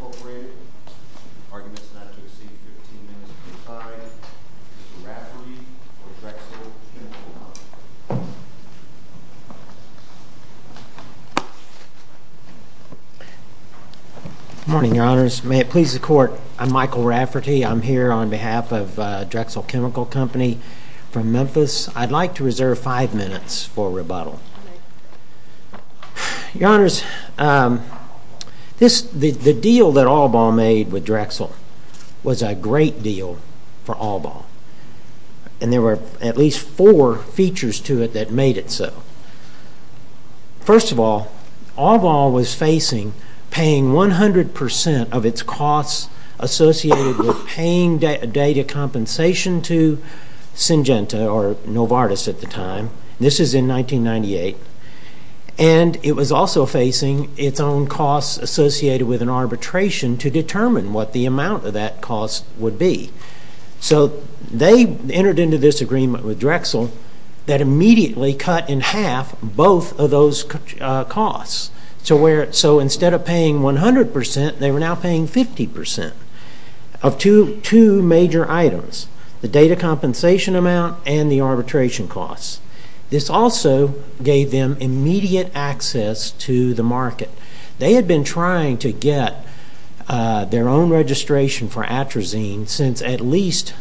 Incorporated. Arguments not to receive 15 minutes per side. Mr. Rafferty for Drexel Chemical Company. Good morning, your honors. May it please the court, I'm Michael Rafferty. I'm here on behalf of Drexel Chemical Company from Memphis. I'd like to reserve five minutes for rebuttal. Your honors, the deal that Albaugh made with Drexel was a great deal for Albaugh. And there were at least four features to it that made it so. First of all, Albaugh was facing paying 100% of its costs associated with paying data compensation to Syngenta or Novartis at the time. This is in 1998. And it was also facing its own costs associated with an arbitration to determine what the amount of that cost would be. So they entered into this agreement with Drexel that immediately cut in half both of those costs. So instead of paying 100%, they were now paying 50% of two major items, the data compensation amount and the arbitration costs. This also gave them immediate access to the market. They had been trying to get their own registration for atrazine since at least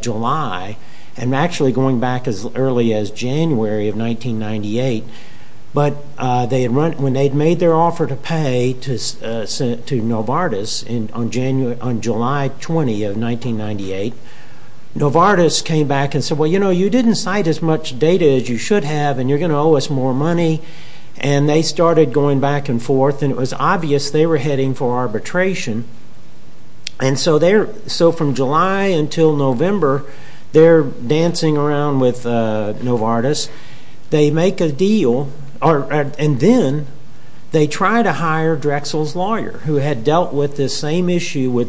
July, and actually going back as early as January of 1998. But when they'd made their offer to pay to Novartis on July 20 of 1998, Novartis came back and said, well, you know, you didn't cite as much data as you should have, and you're going to owe us more money. And they started going back and forth. And it was obvious they were heading for arbitration. And so from July until November, they're dancing around with Novartis. They make a deal, and then they try to hire Drexel's interview with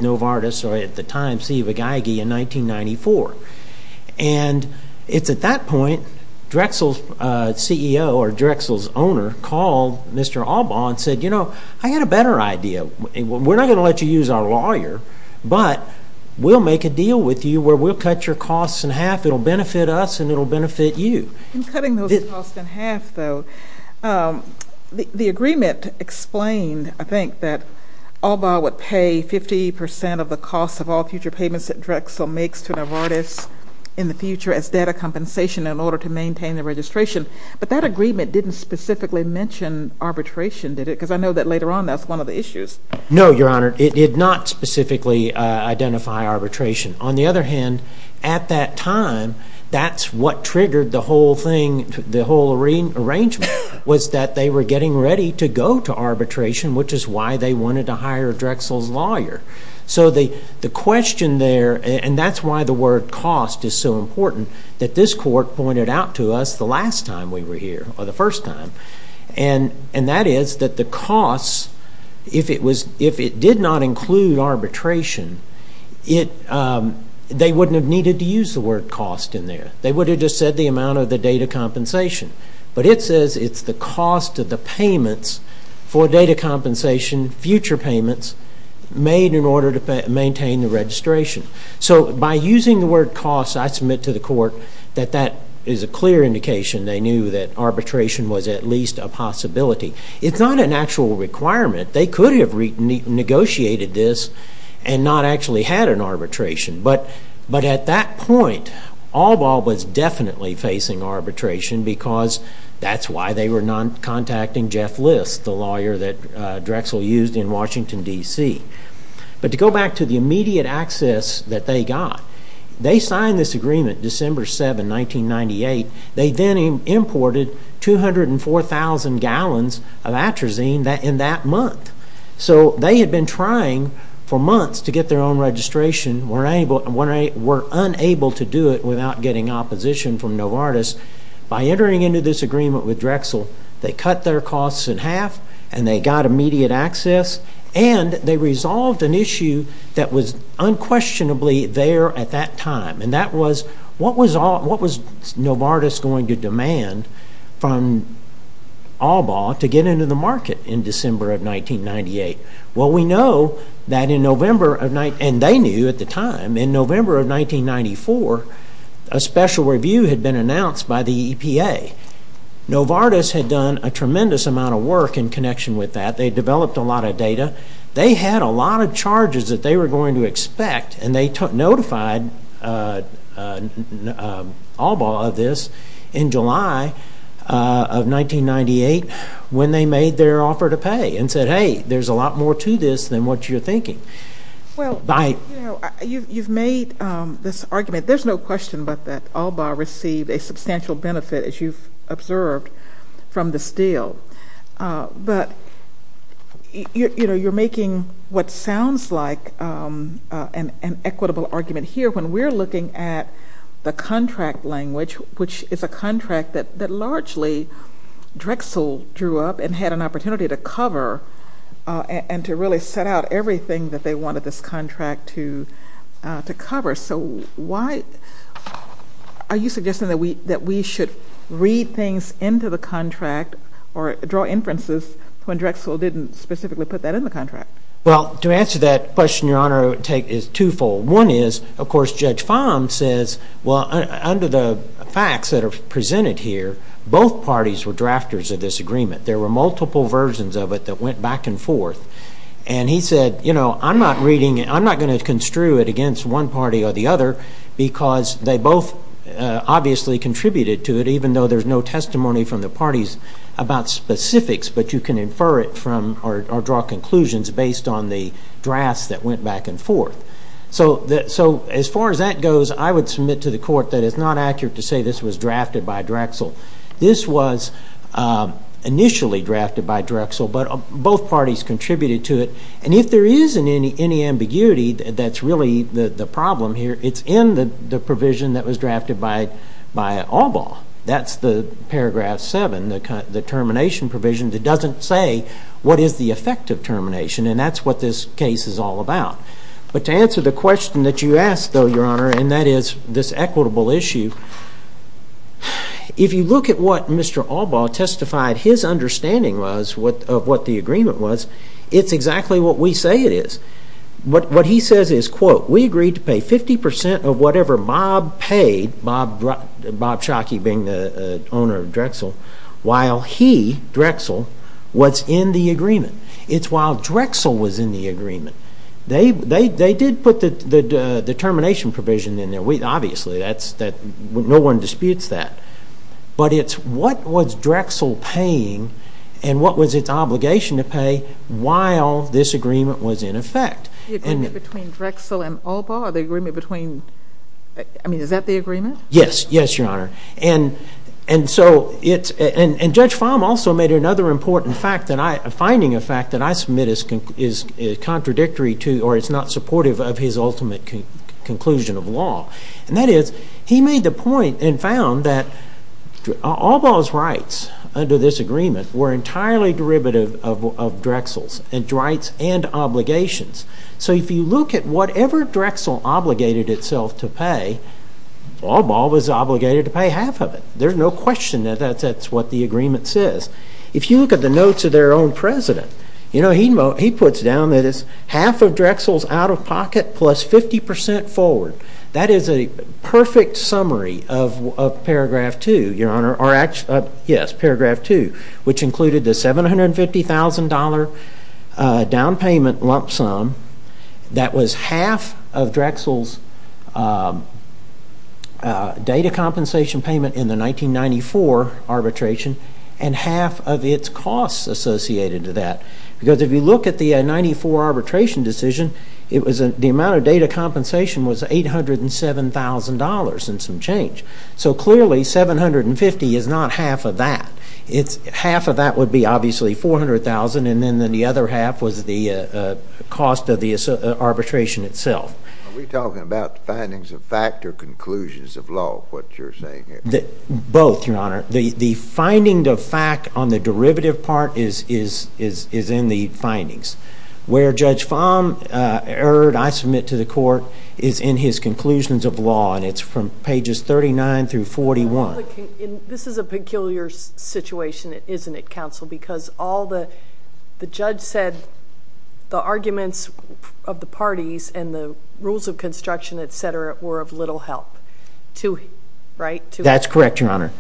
Novartis, or at the time, Siva Geigy in 1994. And it's at that point, Drexel's CEO or Drexel's owner called Mr. Albaugh and said, you know, I had a better idea. We're not going to let you use our lawyer, but we'll make a deal with you where we'll cut your costs in half. It'll benefit us, and it'll benefit you. In cutting those costs in half, though, the agreement explained, I think, that Albaugh would pay 50 percent of the costs of all future payments that Drexel makes to Novartis in the future as data compensation in order to maintain the registration. But that agreement didn't specifically mention arbitration, did it? Because I know that later on, that's one of the issues. No, Your Honor. It did not specifically identify arbitration. On the other hand, at that time, that's what triggered the whole thing, the whole arrangement, was that they were getting ready to go to arbitration, which is why they wanted to hire Drexel's lawyer. So the question there, and that's why the word cost is so important, that this court pointed out to us the last time we were here, or the first time. And that is that the costs, if it did not include arbitration, they wouldn't have needed to use the word cost in there. They would have just said the amount of the data compensation. But it says it's the cost of the payments for data compensation, future payments, made in order to maintain the registration. So by using the word cost, I submit to the court that that is a clear indication they knew that arbitration was at least a possibility. It's not an actual requirement. They could have negotiated this and not actually had an arbitration. But at that point, Allbaugh was definitely facing arbitration because that's why they were not contacting Jeff Liss, the lawyer that Drexel used in Washington, D.C. But to go back to the immediate access that they got, they signed this agreement December 7, 1998. They then imported 204,000 gallons of atrazine in that month. So they had been trying for months to get their own opposition from Novartis. By entering into this agreement with Drexel, they cut their costs in half and they got immediate access and they resolved an issue that was unquestionably there at that time. And that was, what was Novartis going to demand from Allbaugh to get into the market in December of 1998? Well, we know that in November, and they knew at the time, in November of 1994, a special review had been announced by the EPA. Novartis had done a tremendous amount of work in connection with that. They developed a lot of data. They had a lot of charges that they were going to expect and they notified Allbaugh of this in July of 1998 when they made their offer to pay and said, hey, there's a lot more to this than what you're thinking. Well, you know, you've made this argument. There's no question but that Allbaugh received a substantial benefit, as you've observed, from this deal. But, you know, you're making what sounds like an equitable argument here when we're looking at the contract language, which is a contract that largely Drexel drew up and had an opportunity to cover and to really set out everything that they wanted this contract to cover. So why are you suggesting that we should read things into the contract or draw inferences when Drexel didn't specifically put that in the contract? Well, to answer that question, Your Honor, I would take it as twofold. One is, of course, Judge Fahm says, well, under the facts that are presented here, both parties were drafters of this agreement. There were multiple versions of it that went back and forth. And he said, you know, I'm not going to construe it against one party or the other because they both obviously contributed to it, even though there's no testimony from the parties about specifics, but you can infer it from or draw conclusions based on the drafts that went back and forth. So as far as that goes, I would submit to the Court that it's not accurate to say this was drafted by Drexel. This was initially drafted by Drexel, but both parties contributed to it. And if there is any ambiguity, that's really the problem here. It's in the provision that was drafted by Albaugh. That's the paragraph 7, the termination provision that doesn't say what is the effect of termination. And that's what this case is all about. But to answer the question that you asked, though, Your Honor, and that is this equitable issue, if you look at what Mr. Albaugh testified his understanding was of what the agreement was, it's exactly what we say it is. What he says is, quote, we agreed to pay 50% of whatever Bob paid, Bob Schake being the owner of Drexel, while he, Drexel, was in the agreement. It's while Drexel was in the agreement. They did put the termination provision in there. Obviously, no one disputes that. But it's what was Drexel paying, and what was its obligation to pay, while this agreement was in effect. The agreement between Drexel and Albaugh, the agreement between, I mean, is that the agreement? Yes. Yes, Your Honor. And so it's, and Judge Fahm also made another important fact that I, finding a fact that I submit is contradictory to, or is not supportive of his ultimate conclusion of law. And that is, he made the point and found that Albaugh's rights under this agreement were entirely derivative of Drexel's rights and obligations. So if you look at whatever Drexel obligated itself to pay, Albaugh was obligated to pay half of it. There's no question that that's what the agreement says. If you look at the notes of their own president, you know, he puts down that it's half of Drexel's out-of-pocket plus 50% forward. That is a perfect summary of Paragraph 2, Your Honor, or actually, yes, Paragraph 2, which included the $750,000 down payment lump sum that was half of Drexel's data compensation payment in the 1994 arbitration and half of its costs associated to that. Because if you look at the 94 arbitration decision, it was, the amount of data compensation was $807,000 and some change. So clearly, $750,000 is not half of that. It's, half of that would be obviously $400,000 and then the other half was the cost of the arbitration itself. Are we talking about findings of fact or conclusions of law, what you're saying here? Both, Your Honor. The finding of fact on the derivative part is in the findings. Where Judge Fahm erred, I submit to the court, is in his conclusions of law, and it's from pages 39 through 41. This is a peculiar situation, isn't it, counsel? Because all the, the judge said the arguments of the parties and the rules of construction, et cetera, were of little help. To, right? That's correct, Your Honor.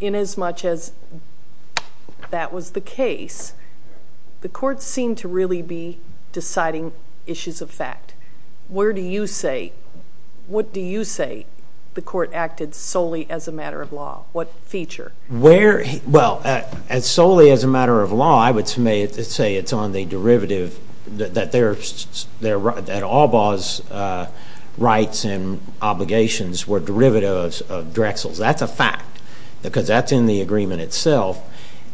In as much as that was the case, the court seemed to really be deciding issues of fact. Where do you say, what do you say the court acted solely as a matter of law? What feature? Where, well, as solely as a matter of law, I would say it's on the derivative that there are, that Albaugh's rights and obligations were derivatives of Drexel's. That's a fact because that's in the agreement itself.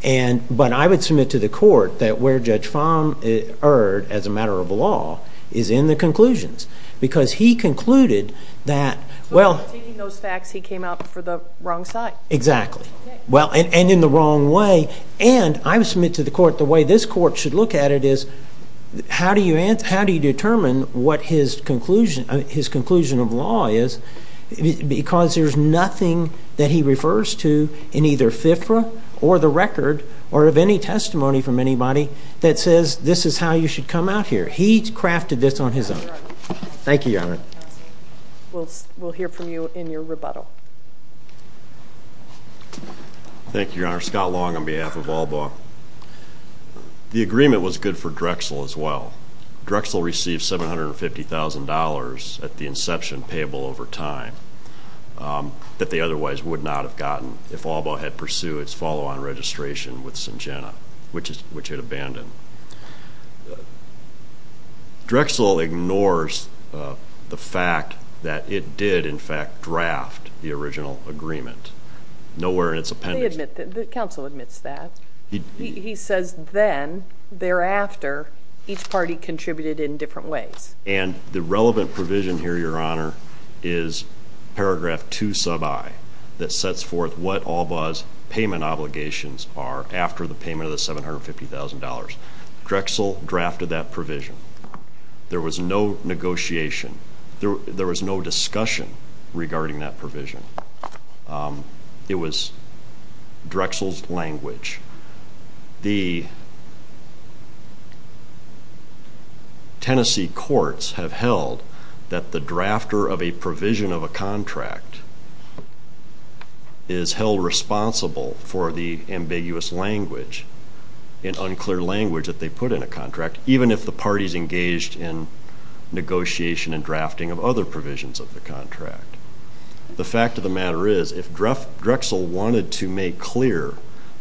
And, but I would submit to the court that where Judge Fahm erred as a matter of law is in the conclusions because he concluded that, well. But in taking those facts, he came out for the wrong side. Exactly. Okay. Well, and in the wrong way. And I would submit to the court the way this court should look at it is how do you answer, how do you determine what his conclusion, his conclusion of law is because there's nothing that he refers to in either FIFRA or the record or of any testimony from anybody that says this is how you should come out here. He crafted this on his own. That's right. Thank you, Your Honor. We'll, we'll hear from you in your rebuttal. Thank you, Your Honor. Scott Long on behalf of Albaugh. The agreement was good for Drexel as well. Drexel received $750,000 at the inception payable over time that they otherwise would not have gotten if Albaugh had pursued its follow-on registration with Syngenta, which had abandoned. Drexel ignores the fact that it did, in fact, draft the original agreement. Nowhere in its appendix. They admit that. The counsel admits that. He says then, thereafter, each party contributed in different ways. And the relevant provision here, Your Honor, is paragraph 2 sub I that sets forth what $750,000. Drexel drafted that provision. There was no negotiation. There was no discussion regarding that provision. It was Drexel's language. The Tennessee courts have held that the drafter of a provision of a contract is held responsible for the ambiguous language, and unclear language that they put in a contract, even if the party's engaged in negotiation and drafting of other provisions of the contract. The fact of the matter is, if Drexel wanted to make clear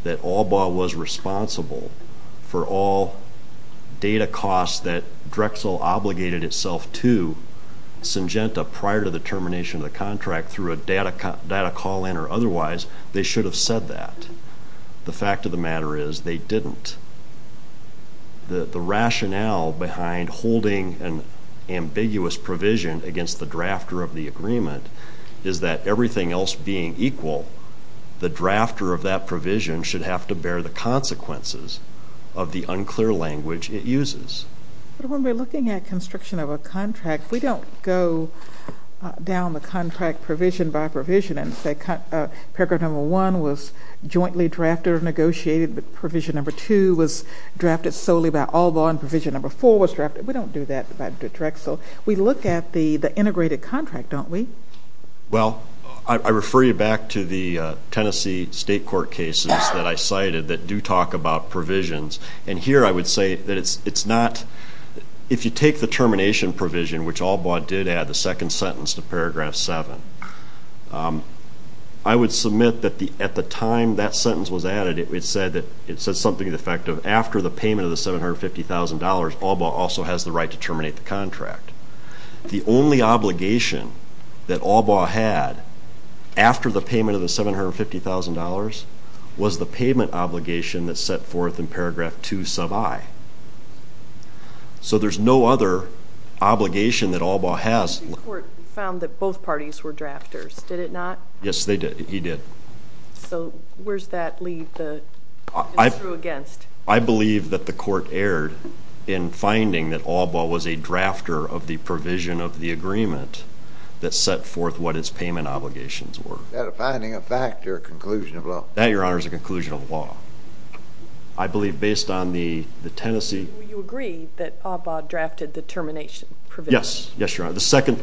that Albaugh was responsible for all data costs that Drexel obligated itself to Syngenta prior to the termination of the contract through a data call-in or otherwise, they should have said that. The fact of the matter is, they didn't. The rationale behind holding an ambiguous provision against the drafter of the agreement is that, everything else being equal, the drafter of that provision should have to bear the consequences of the unclear language it uses. But when we're looking at construction of a contract, we don't go down the contract provision by provision and say paragraph number 1 was jointly drafted or negotiated, but provision number 2 was drafted solely by Albaugh, and provision number 4 was drafted. We don't do that by Drexel. We look at the integrated contract, don't we? Well, I refer you back to the Tennessee State Court cases that I cited that do talk about provisions, and here I would say that it's not, if you take the termination provision, which Albaugh did add the second sentence to paragraph 7, I would submit that at the time that sentence was added, it said something to the effect of, after the payment of the $750,000, Albaugh also has the right to terminate the contract. The only obligation that Albaugh had, after the payment of the $750,000, was the payment obligation that's set forth in paragraph 2 sub I. So there's no other obligation that Albaugh has. The court found that both parties were drafters, did it not? Yes, they did. He did. So where's that leave that it's true against? I believe that the court erred in finding that Albaugh was a drafter of the provision of the agreement that set forth what its payment obligations were. Is that a finding of fact or a conclusion of law? That, Your Honor, is a conclusion of law. I believe based on the Tennessee... Well, you agree that Albaugh drafted the termination provision? Yes, Your Honor. The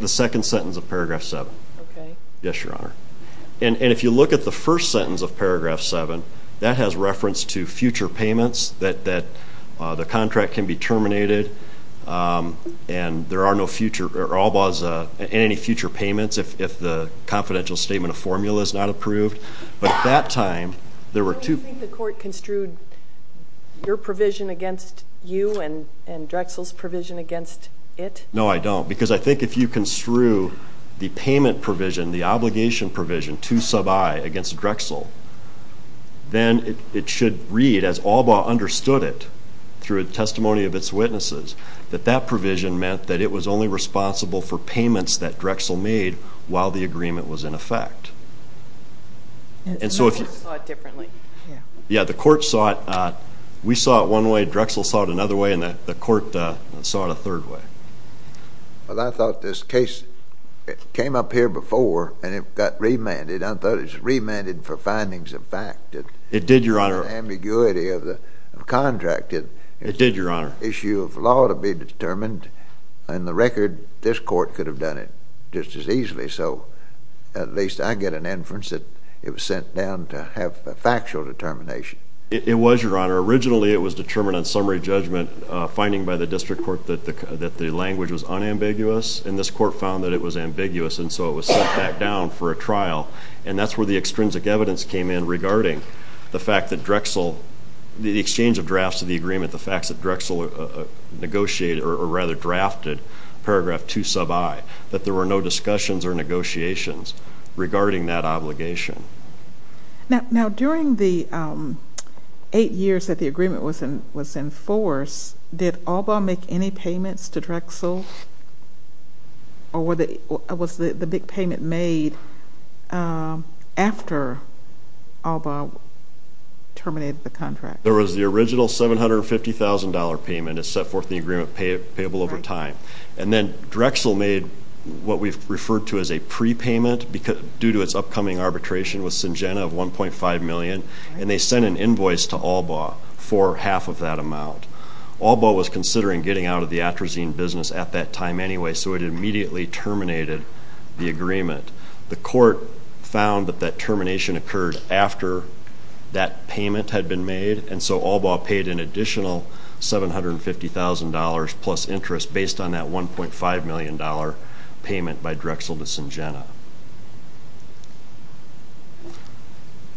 second sentence of paragraph 7. Okay. Yes, Your Honor. And if you look at the first sentence of paragraph 7, that has reference to future payments, that the contract can be terminated, and there are no future... Albaugh has any future payments if the confidential statement of formula is not approved. But at that time, there were two... Don't you think the court construed your provision against you and Drexel's provision against it? No, I don't. Because I think if you construe the payment provision, the obligation provision, to sub I against Drexel, then it should read, as Albaugh understood it through a testimony of its witnesses, that that provision meant that it was only responsible for payments that Drexel made while the agreement was in effect. And so if you... The court saw it differently. Yeah, the court saw it... We saw it one way, Drexel saw it another way, and the court saw it a third way. Well, I thought this case came up here before, and it got remanded. I thought it was remanded for findings of fact. It did, Your Honor. The ambiguity of the contract. It did, Your Honor. Issue of law to be determined, and the record, this court could have done it just as easily. So at least I get an inference that it was sent down to have a factual determination. It was, Your Honor. Originally, it was determined on summary judgment, a finding by the district court that the language was unambiguous, and this court found that it was ambiguous, and so it was sent back down for a trial. And that's where the extrinsic evidence came in regarding the fact that Drexel, the exchange of drafts of the agreement, the facts that Drexel negotiated, or rather drafted, paragraph two sub I, that there were no discussions or negotiations regarding that obligation. Now, during the eight years that the agreement was in force, did ALBA make any payments to Drexel, or was the big payment made after ALBA terminated the contract? There was the original $750,000 payment. It set forth the agreement payable over time. And then Drexel made what we've referred to as a prepayment due to its upcoming arbitration with Syngenta of $1.5 million, and they sent an invoice to ALBA for half of that amount. ALBA was considering getting out of the atrazine business at that time anyway, so it immediately terminated the agreement. The court found that that termination occurred after that payment had been made, and so ALBA paid an additional $750,000 plus interest based on that $1.5 million payment by Drexel to Syngenta.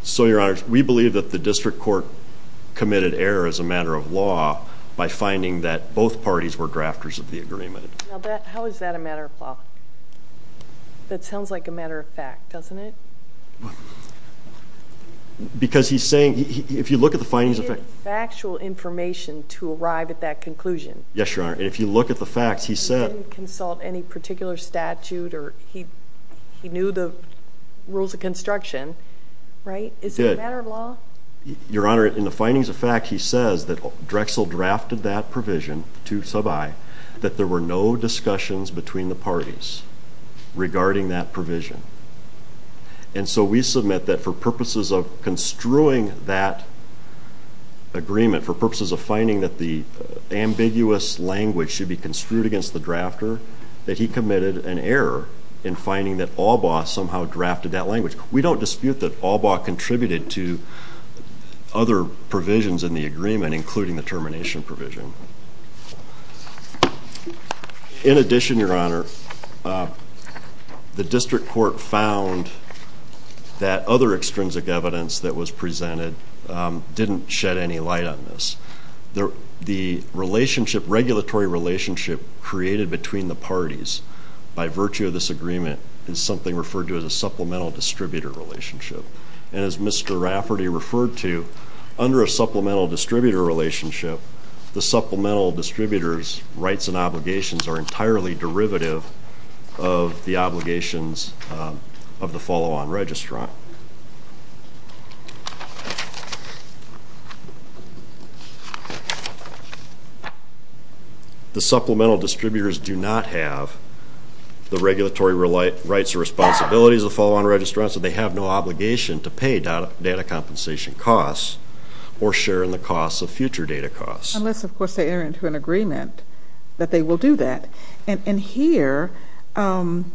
So Your Honors, we believe that the district court committed error as a matter of law by finding that both parties were drafters of the agreement. How is that a matter of law? That sounds like a matter of fact, doesn't it? Because he's saying, if you look at the findings of fact... It is factual information to arrive at that conclusion. Yes, Your Honor, and if you look at the facts, he said... He didn't consult any particular statute, or he knew the rules of construction, right? Is it a matter of law? Your Honor, in the findings of fact, he says that Drexel drafted that provision to Sub I that there were no discussions between the parties regarding that provision. And so we submit that for purposes of construing that agreement, for purposes of finding that the ambiguous language should be construed against the drafter, that he committed an error in finding that ALBA somehow drafted that language. We don't dispute that ALBA contributed to other provisions in the agreement, including the termination provision. In addition, Your Honor, the District Court found that other extrinsic evidence that was presented didn't shed any light on this. The regulatory relationship created between the parties by virtue of this agreement is something referred to as a supplemental distributor relationship. And as Mr. Rafferty referred to, under a supplemental distributor relationship, the supplemental distributor's rights and obligations are entirely derivative of the obligations of the follow-on registrant. The supplemental distributors do not have the regulatory rights or responsibilities of the follow-on registrant, so they have no obligation to pay data compensation costs or share in the costs of future data costs. Unless, of course, they enter into an agreement that they will do that. And here, ALBA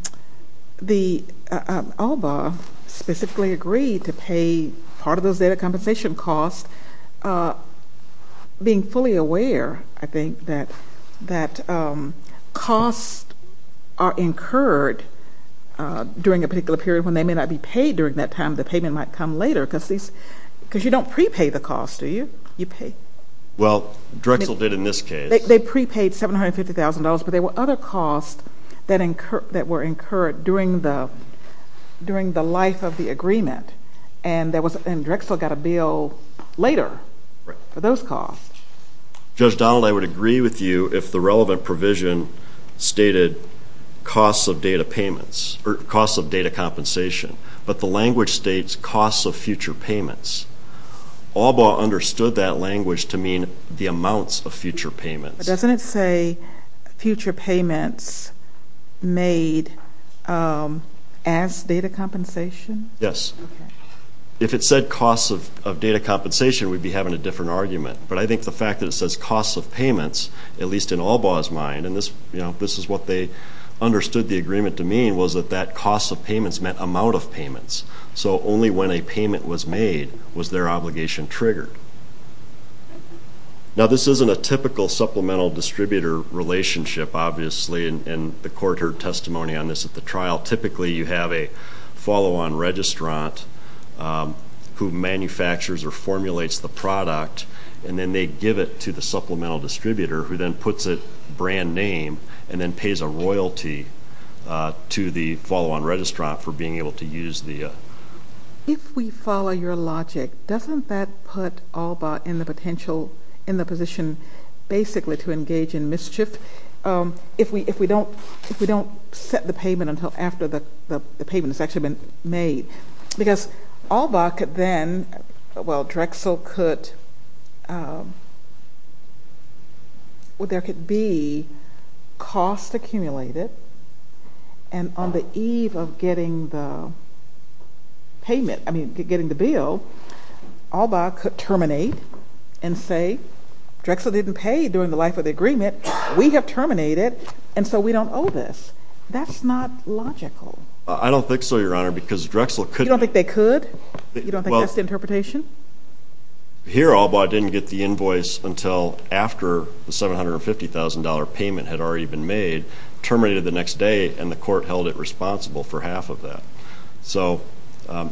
specifically agreed to pay part of those data compensation costs, being fully aware, I think, that costs are incurred during a particular period when they may not be paid during that time. The payment might come later because you don't prepay the costs, do you? You pay. Well, Drexel did in this case. They prepaid $750,000, but there were other costs that were incurred during the life of the agreement. And Drexel got a bill later for those costs. Judge Donald, I would agree with you if the relevant provision stated costs of data payments or costs of data compensation, but the language states costs of future payments. ALBA understood that language to mean the amounts of future payments. But doesn't it say future payments made as data compensation? Yes. If it said costs of data compensation, we'd be having a different argument. But I think the fact that it says costs of payments, at least in ALBA's mind, and this is what they understood the agreement to mean, was that that costs of payments meant amount of payments. So only when a payment was made was their obligation triggered. Now, this isn't a typical supplemental distributor relationship, obviously, and the court heard testimony on this at the trial. Typically, you have a follow-on registrant who manufactures or formulates the product, and then they give it to the supplemental distributor who then puts it brand name and then pays a royalty to the follow-on registrant for being able to use the... If we follow your logic, doesn't that put ALBA in the potential, in the position basically to engage in mischief if we don't set the payment until after the payment has actually been made? Because ALBA could then, well, Drexel could... Well, there could be costs accumulated, and on the eve of getting the payment, I mean, getting the bill, ALBA could terminate and say, Drexel didn't pay during the life of the agreement. We have terminated, and so we don't owe this. That's not logical. I don't think so, Your Honor, because Drexel could... You don't think they could? You don't think that's the interpretation? Here, ALBA didn't get the invoice until after the $750,000 payment had already been made, terminated the next day, and the court held it responsible for half of that. So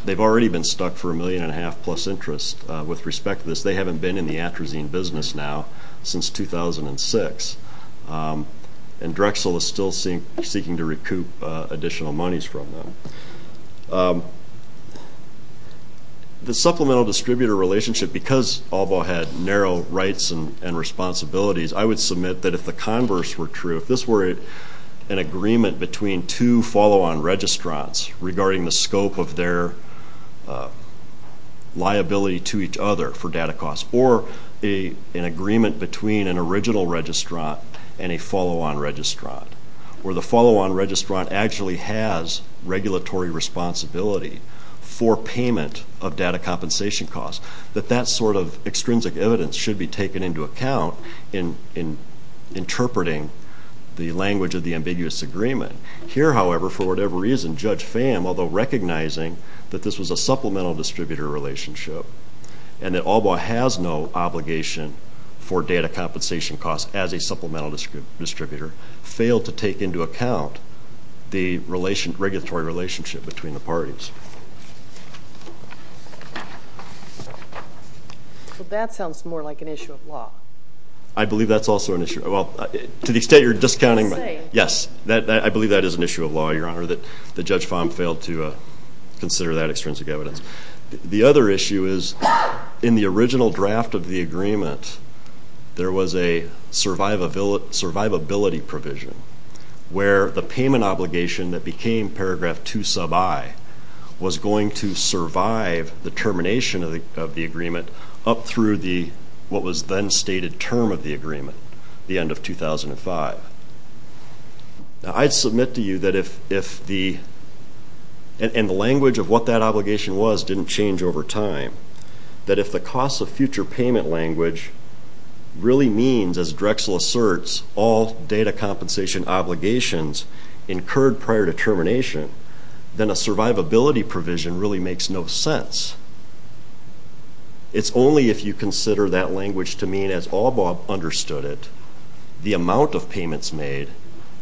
they've already been stuck for a million and a half plus interest. With respect to this, they haven't been in the Atrazine business now since 2006, and Drexel is still seeking to recoup additional monies from them. The supplemental distributor relationship, because ALBA had narrow rights and responsibilities, I would submit that if the converse were true, if this were an agreement between two follow-on registrants regarding the scope of their liability to each other for data costs or an agreement between an original registrant and a follow-on registrant where the follow-on registrant actually has regulatory responsibility for payment of data compensation costs, that that sort of extrinsic evidence should be taken into account in interpreting the language of the ambiguous agreement. Here, however, for whatever reason, Judge Fam, although recognizing that this was a supplemental distributor relationship and that ALBA has no obligation for data compensation costs as a supplemental distributor, failed to take into account the regulatory relationship between the parties. So that sounds more like an issue of law. I believe that's also an issue of law. To the extent you're discounting my... I'm saying. Yes, I believe that is an issue of law, Your Honor, that Judge Fam failed to consider that extrinsic evidence. The other issue is in the original draft of the agreement, there was a survivability provision where the payment obligation that became paragraph 2 sub I was going to survive the termination of the agreement up through what was then stated term of the agreement, the end of 2005. Now, I'd submit to you that if the... and the language of what that obligation was didn't change over time, that if the cost of future payment language really means, as Drexel asserts, all data compensation obligations incurred prior to termination, then a survivability provision really makes no sense. It's only if you consider that language to mean, as ALBA understood it, the amount of payments made,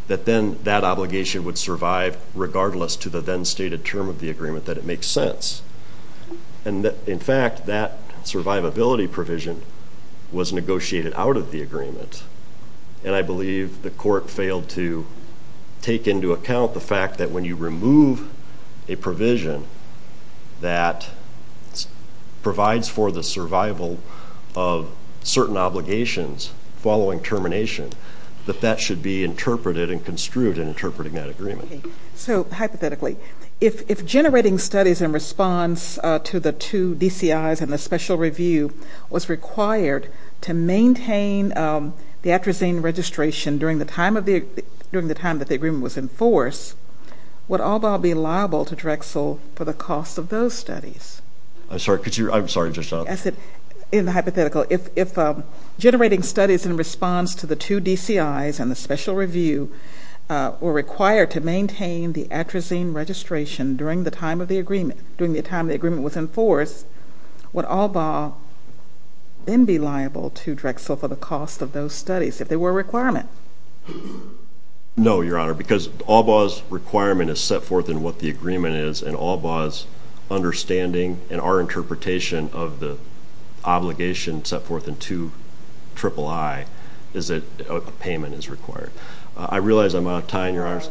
that then that obligation would survive regardless to the then stated term of the agreement that it makes sense. In fact, that survivability provision was negotiated out of the agreement, and I believe the court failed to take into account the fact that when you remove a provision that provides for the survival of certain obligations following termination, that that should be interpreted and construed in interpreting that agreement. Okay. So hypothetically, if generating studies in response to the two DCIs and the special review was required to maintain the atrazine registration during the time that the agreement was in force, would ALBA be liable to Drexel for the cost of those studies? I'm sorry. Could you... I'm sorry. Just... I said in the hypothetical, if generating studies in response to the two DCIs and the special review were required to maintain the atrazine registration during the time of the agreement, during the time the agreement was in force, would ALBA then be liable to Drexel for the cost of those studies if they were a requirement? No, Your Honor, because ALBA's requirement is set forth in what the agreement is, and ALBA's understanding and our interpretation of the obligation set forth in 2 III is that a payment is required. I realize I'm out of time, Your Honor,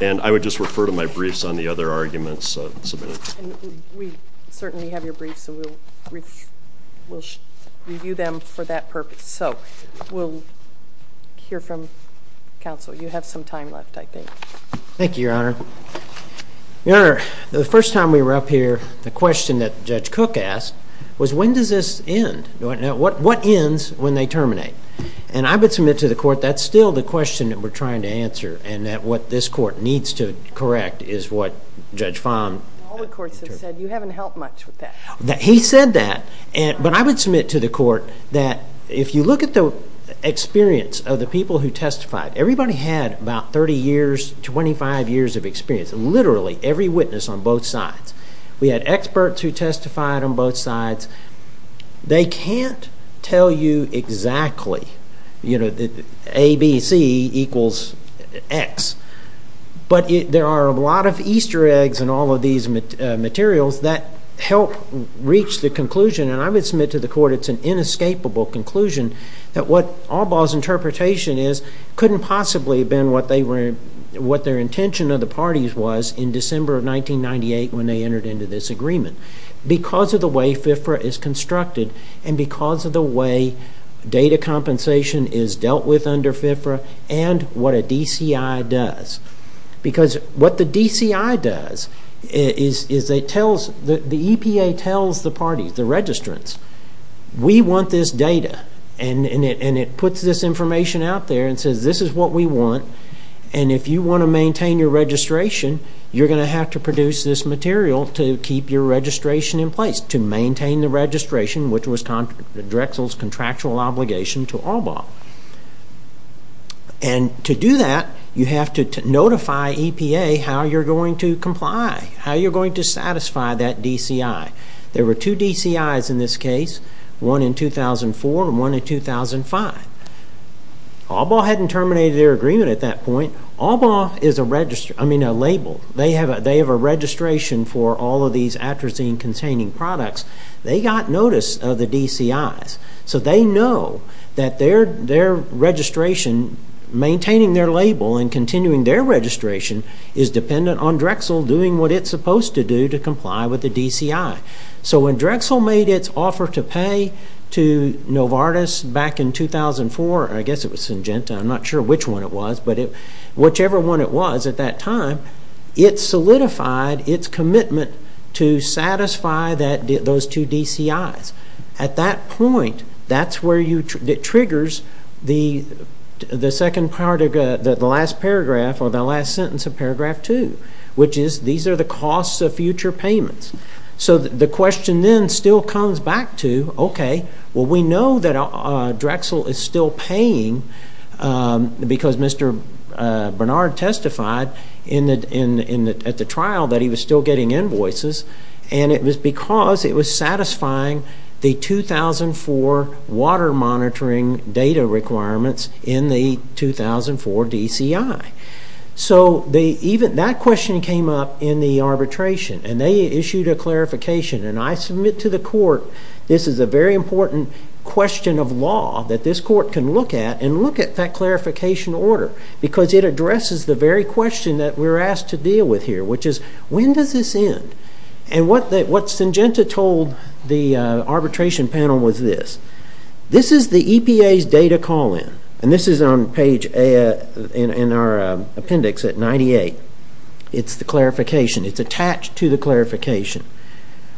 and I would just refer to my briefs on the other arguments submitted. We certainly have your briefs, and we'll review them for that purpose. So we'll hear from counsel. You have some time left, I think. Thank you, Your Honor. Your Honor, the first time we were up here, the question that Judge Cook asked was, when does this end? What ends when they terminate? And I would submit to the court that's still the question that we're trying to answer and that what this court needs to correct is what Judge Fahm... All the courts have said, you haven't helped much with that. He said that, but I would submit to the court that if you look at the experience of the people who testified, everybody had about 30 years, 25 years of experience, literally every witness on both sides. We had experts who testified on both sides. They can't tell you exactly, you know, A, B, C equals X. But there are a lot of Easter eggs in all of these materials that help reach the conclusion, and I would submit to the court it's an inescapable conclusion that what Albaugh's interpretation is couldn't possibly have been what their intention of the parties was in December of 1998 when they entered into this agreement because of the way FIFRA is constructed and because of the way data compensation is dealt with under FIFRA and what a DCI does. Because what the DCI does is it tells... The EPA tells the parties, the registrants, we want this data, and it puts this information out there and says this is what we want, and if you want to maintain your registration, you're going to have to produce this material to keep your registration in place, to maintain the registration, which was Drexel's contractual obligation to Albaugh. And to do that, you have to notify EPA how you're going to comply, how you're going to satisfy that DCI. There were two DCIs in this case, one in 2004 and one in 2005. Albaugh hadn't terminated their agreement at that point. Albaugh is a label. They have a registration for all of these atrazine-containing products. They got notice of the DCIs, so they know that their registration, maintaining their label and continuing their registration, is dependent on Drexel doing what it's supposed to do to comply with the DCI. So when Drexel made its offer to pay to Novartis back in 2004, I guess it was Syngenta, I'm not sure which one it was, but whichever one it was at that time, it solidified its commitment to satisfy those two DCIs. At that point, that's where it triggers the second part of the last paragraph or the last sentence of paragraph two, which is these are the costs of future payments. So the question then still comes back to, okay, well, we know that Drexel is still paying because Mr. Bernard testified at the trial that he was still getting invoices, and it was because it was satisfying the 2004 water monitoring data requirements in the 2004 DCI. So that question came up in the arbitration, and they issued a clarification, and I submit to the court this is a very important question of law that this court can look at and look at that clarification order because it addresses the very question that we're asked to deal with here, which is when does this end? And what Syngenta told the arbitration panel was this. This is the EPA's data call-in, and this is on page A in our appendix at 98. It's the clarification. It's attached to the clarification.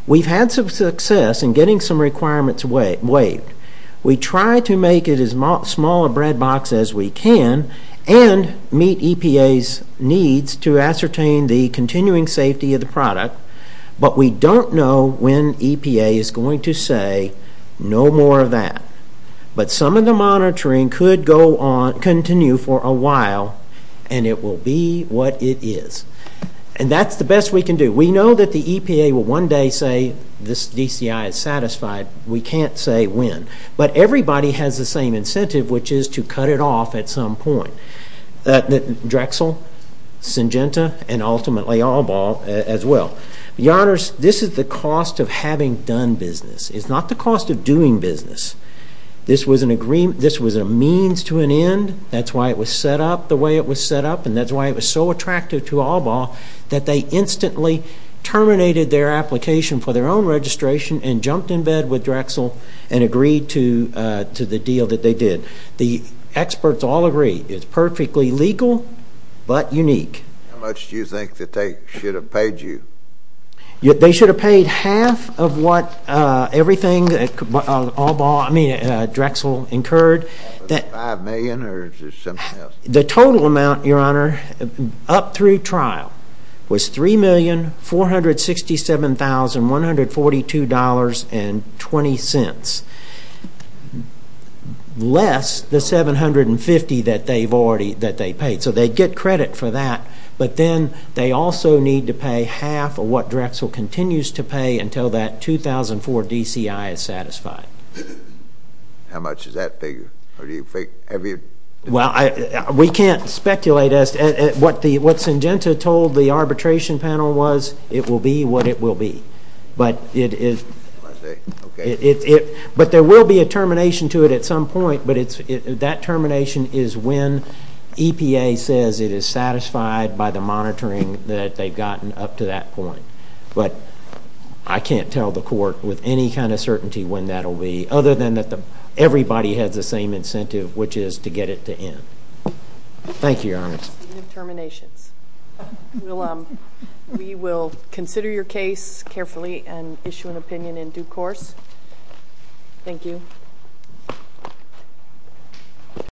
We've had some success in getting some requirements waived. We try to make it as small a bread box as we can and meet EPA's needs to ascertain the continuing safety of the product, but we don't know when EPA is going to say no more of that. But some of the monitoring could continue for a while, and it will be what it is. And that's the best we can do. We know that the EPA will one day say this DCI is satisfied. We can't say when. But everybody has the same incentive, which is to cut it off at some point. Drexel, Syngenta, and ultimately All Ball as well. Your Honors, this is the cost of having done business. It's not the cost of doing business. This was a means to an end. That's why it was set up the way it was set up, and that's why it was so attractive to All Ball that they instantly terminated their application for their own registration and jumped in bed with Drexel and agreed to the deal that they did. The experts all agree it's perfectly legal but unique. How much do you think that they should have paid you? They should have paid half of what Drexel incurred. Five million or something else? The total amount, Your Honor, up through trial was $3,467,142.20, less the $750 that they paid. So they get credit for that. But then they also need to pay half of what Drexel continues to pay until that 2004 DCI is satisfied. How much does that figure? We can't speculate. What Syngenta told the arbitration panel was it will be what it will be. But there will be a termination to it at some point, but that termination is when EPA says it is satisfied by the monitoring that they've gotten up to that point. But I can't tell the court with any kind of certainty when that will be, other than that everybody has the same incentive, which is to get it to end. Thank you, Your Honor. No terminations. We will consider your case carefully and issue an opinion in due course. Thank you.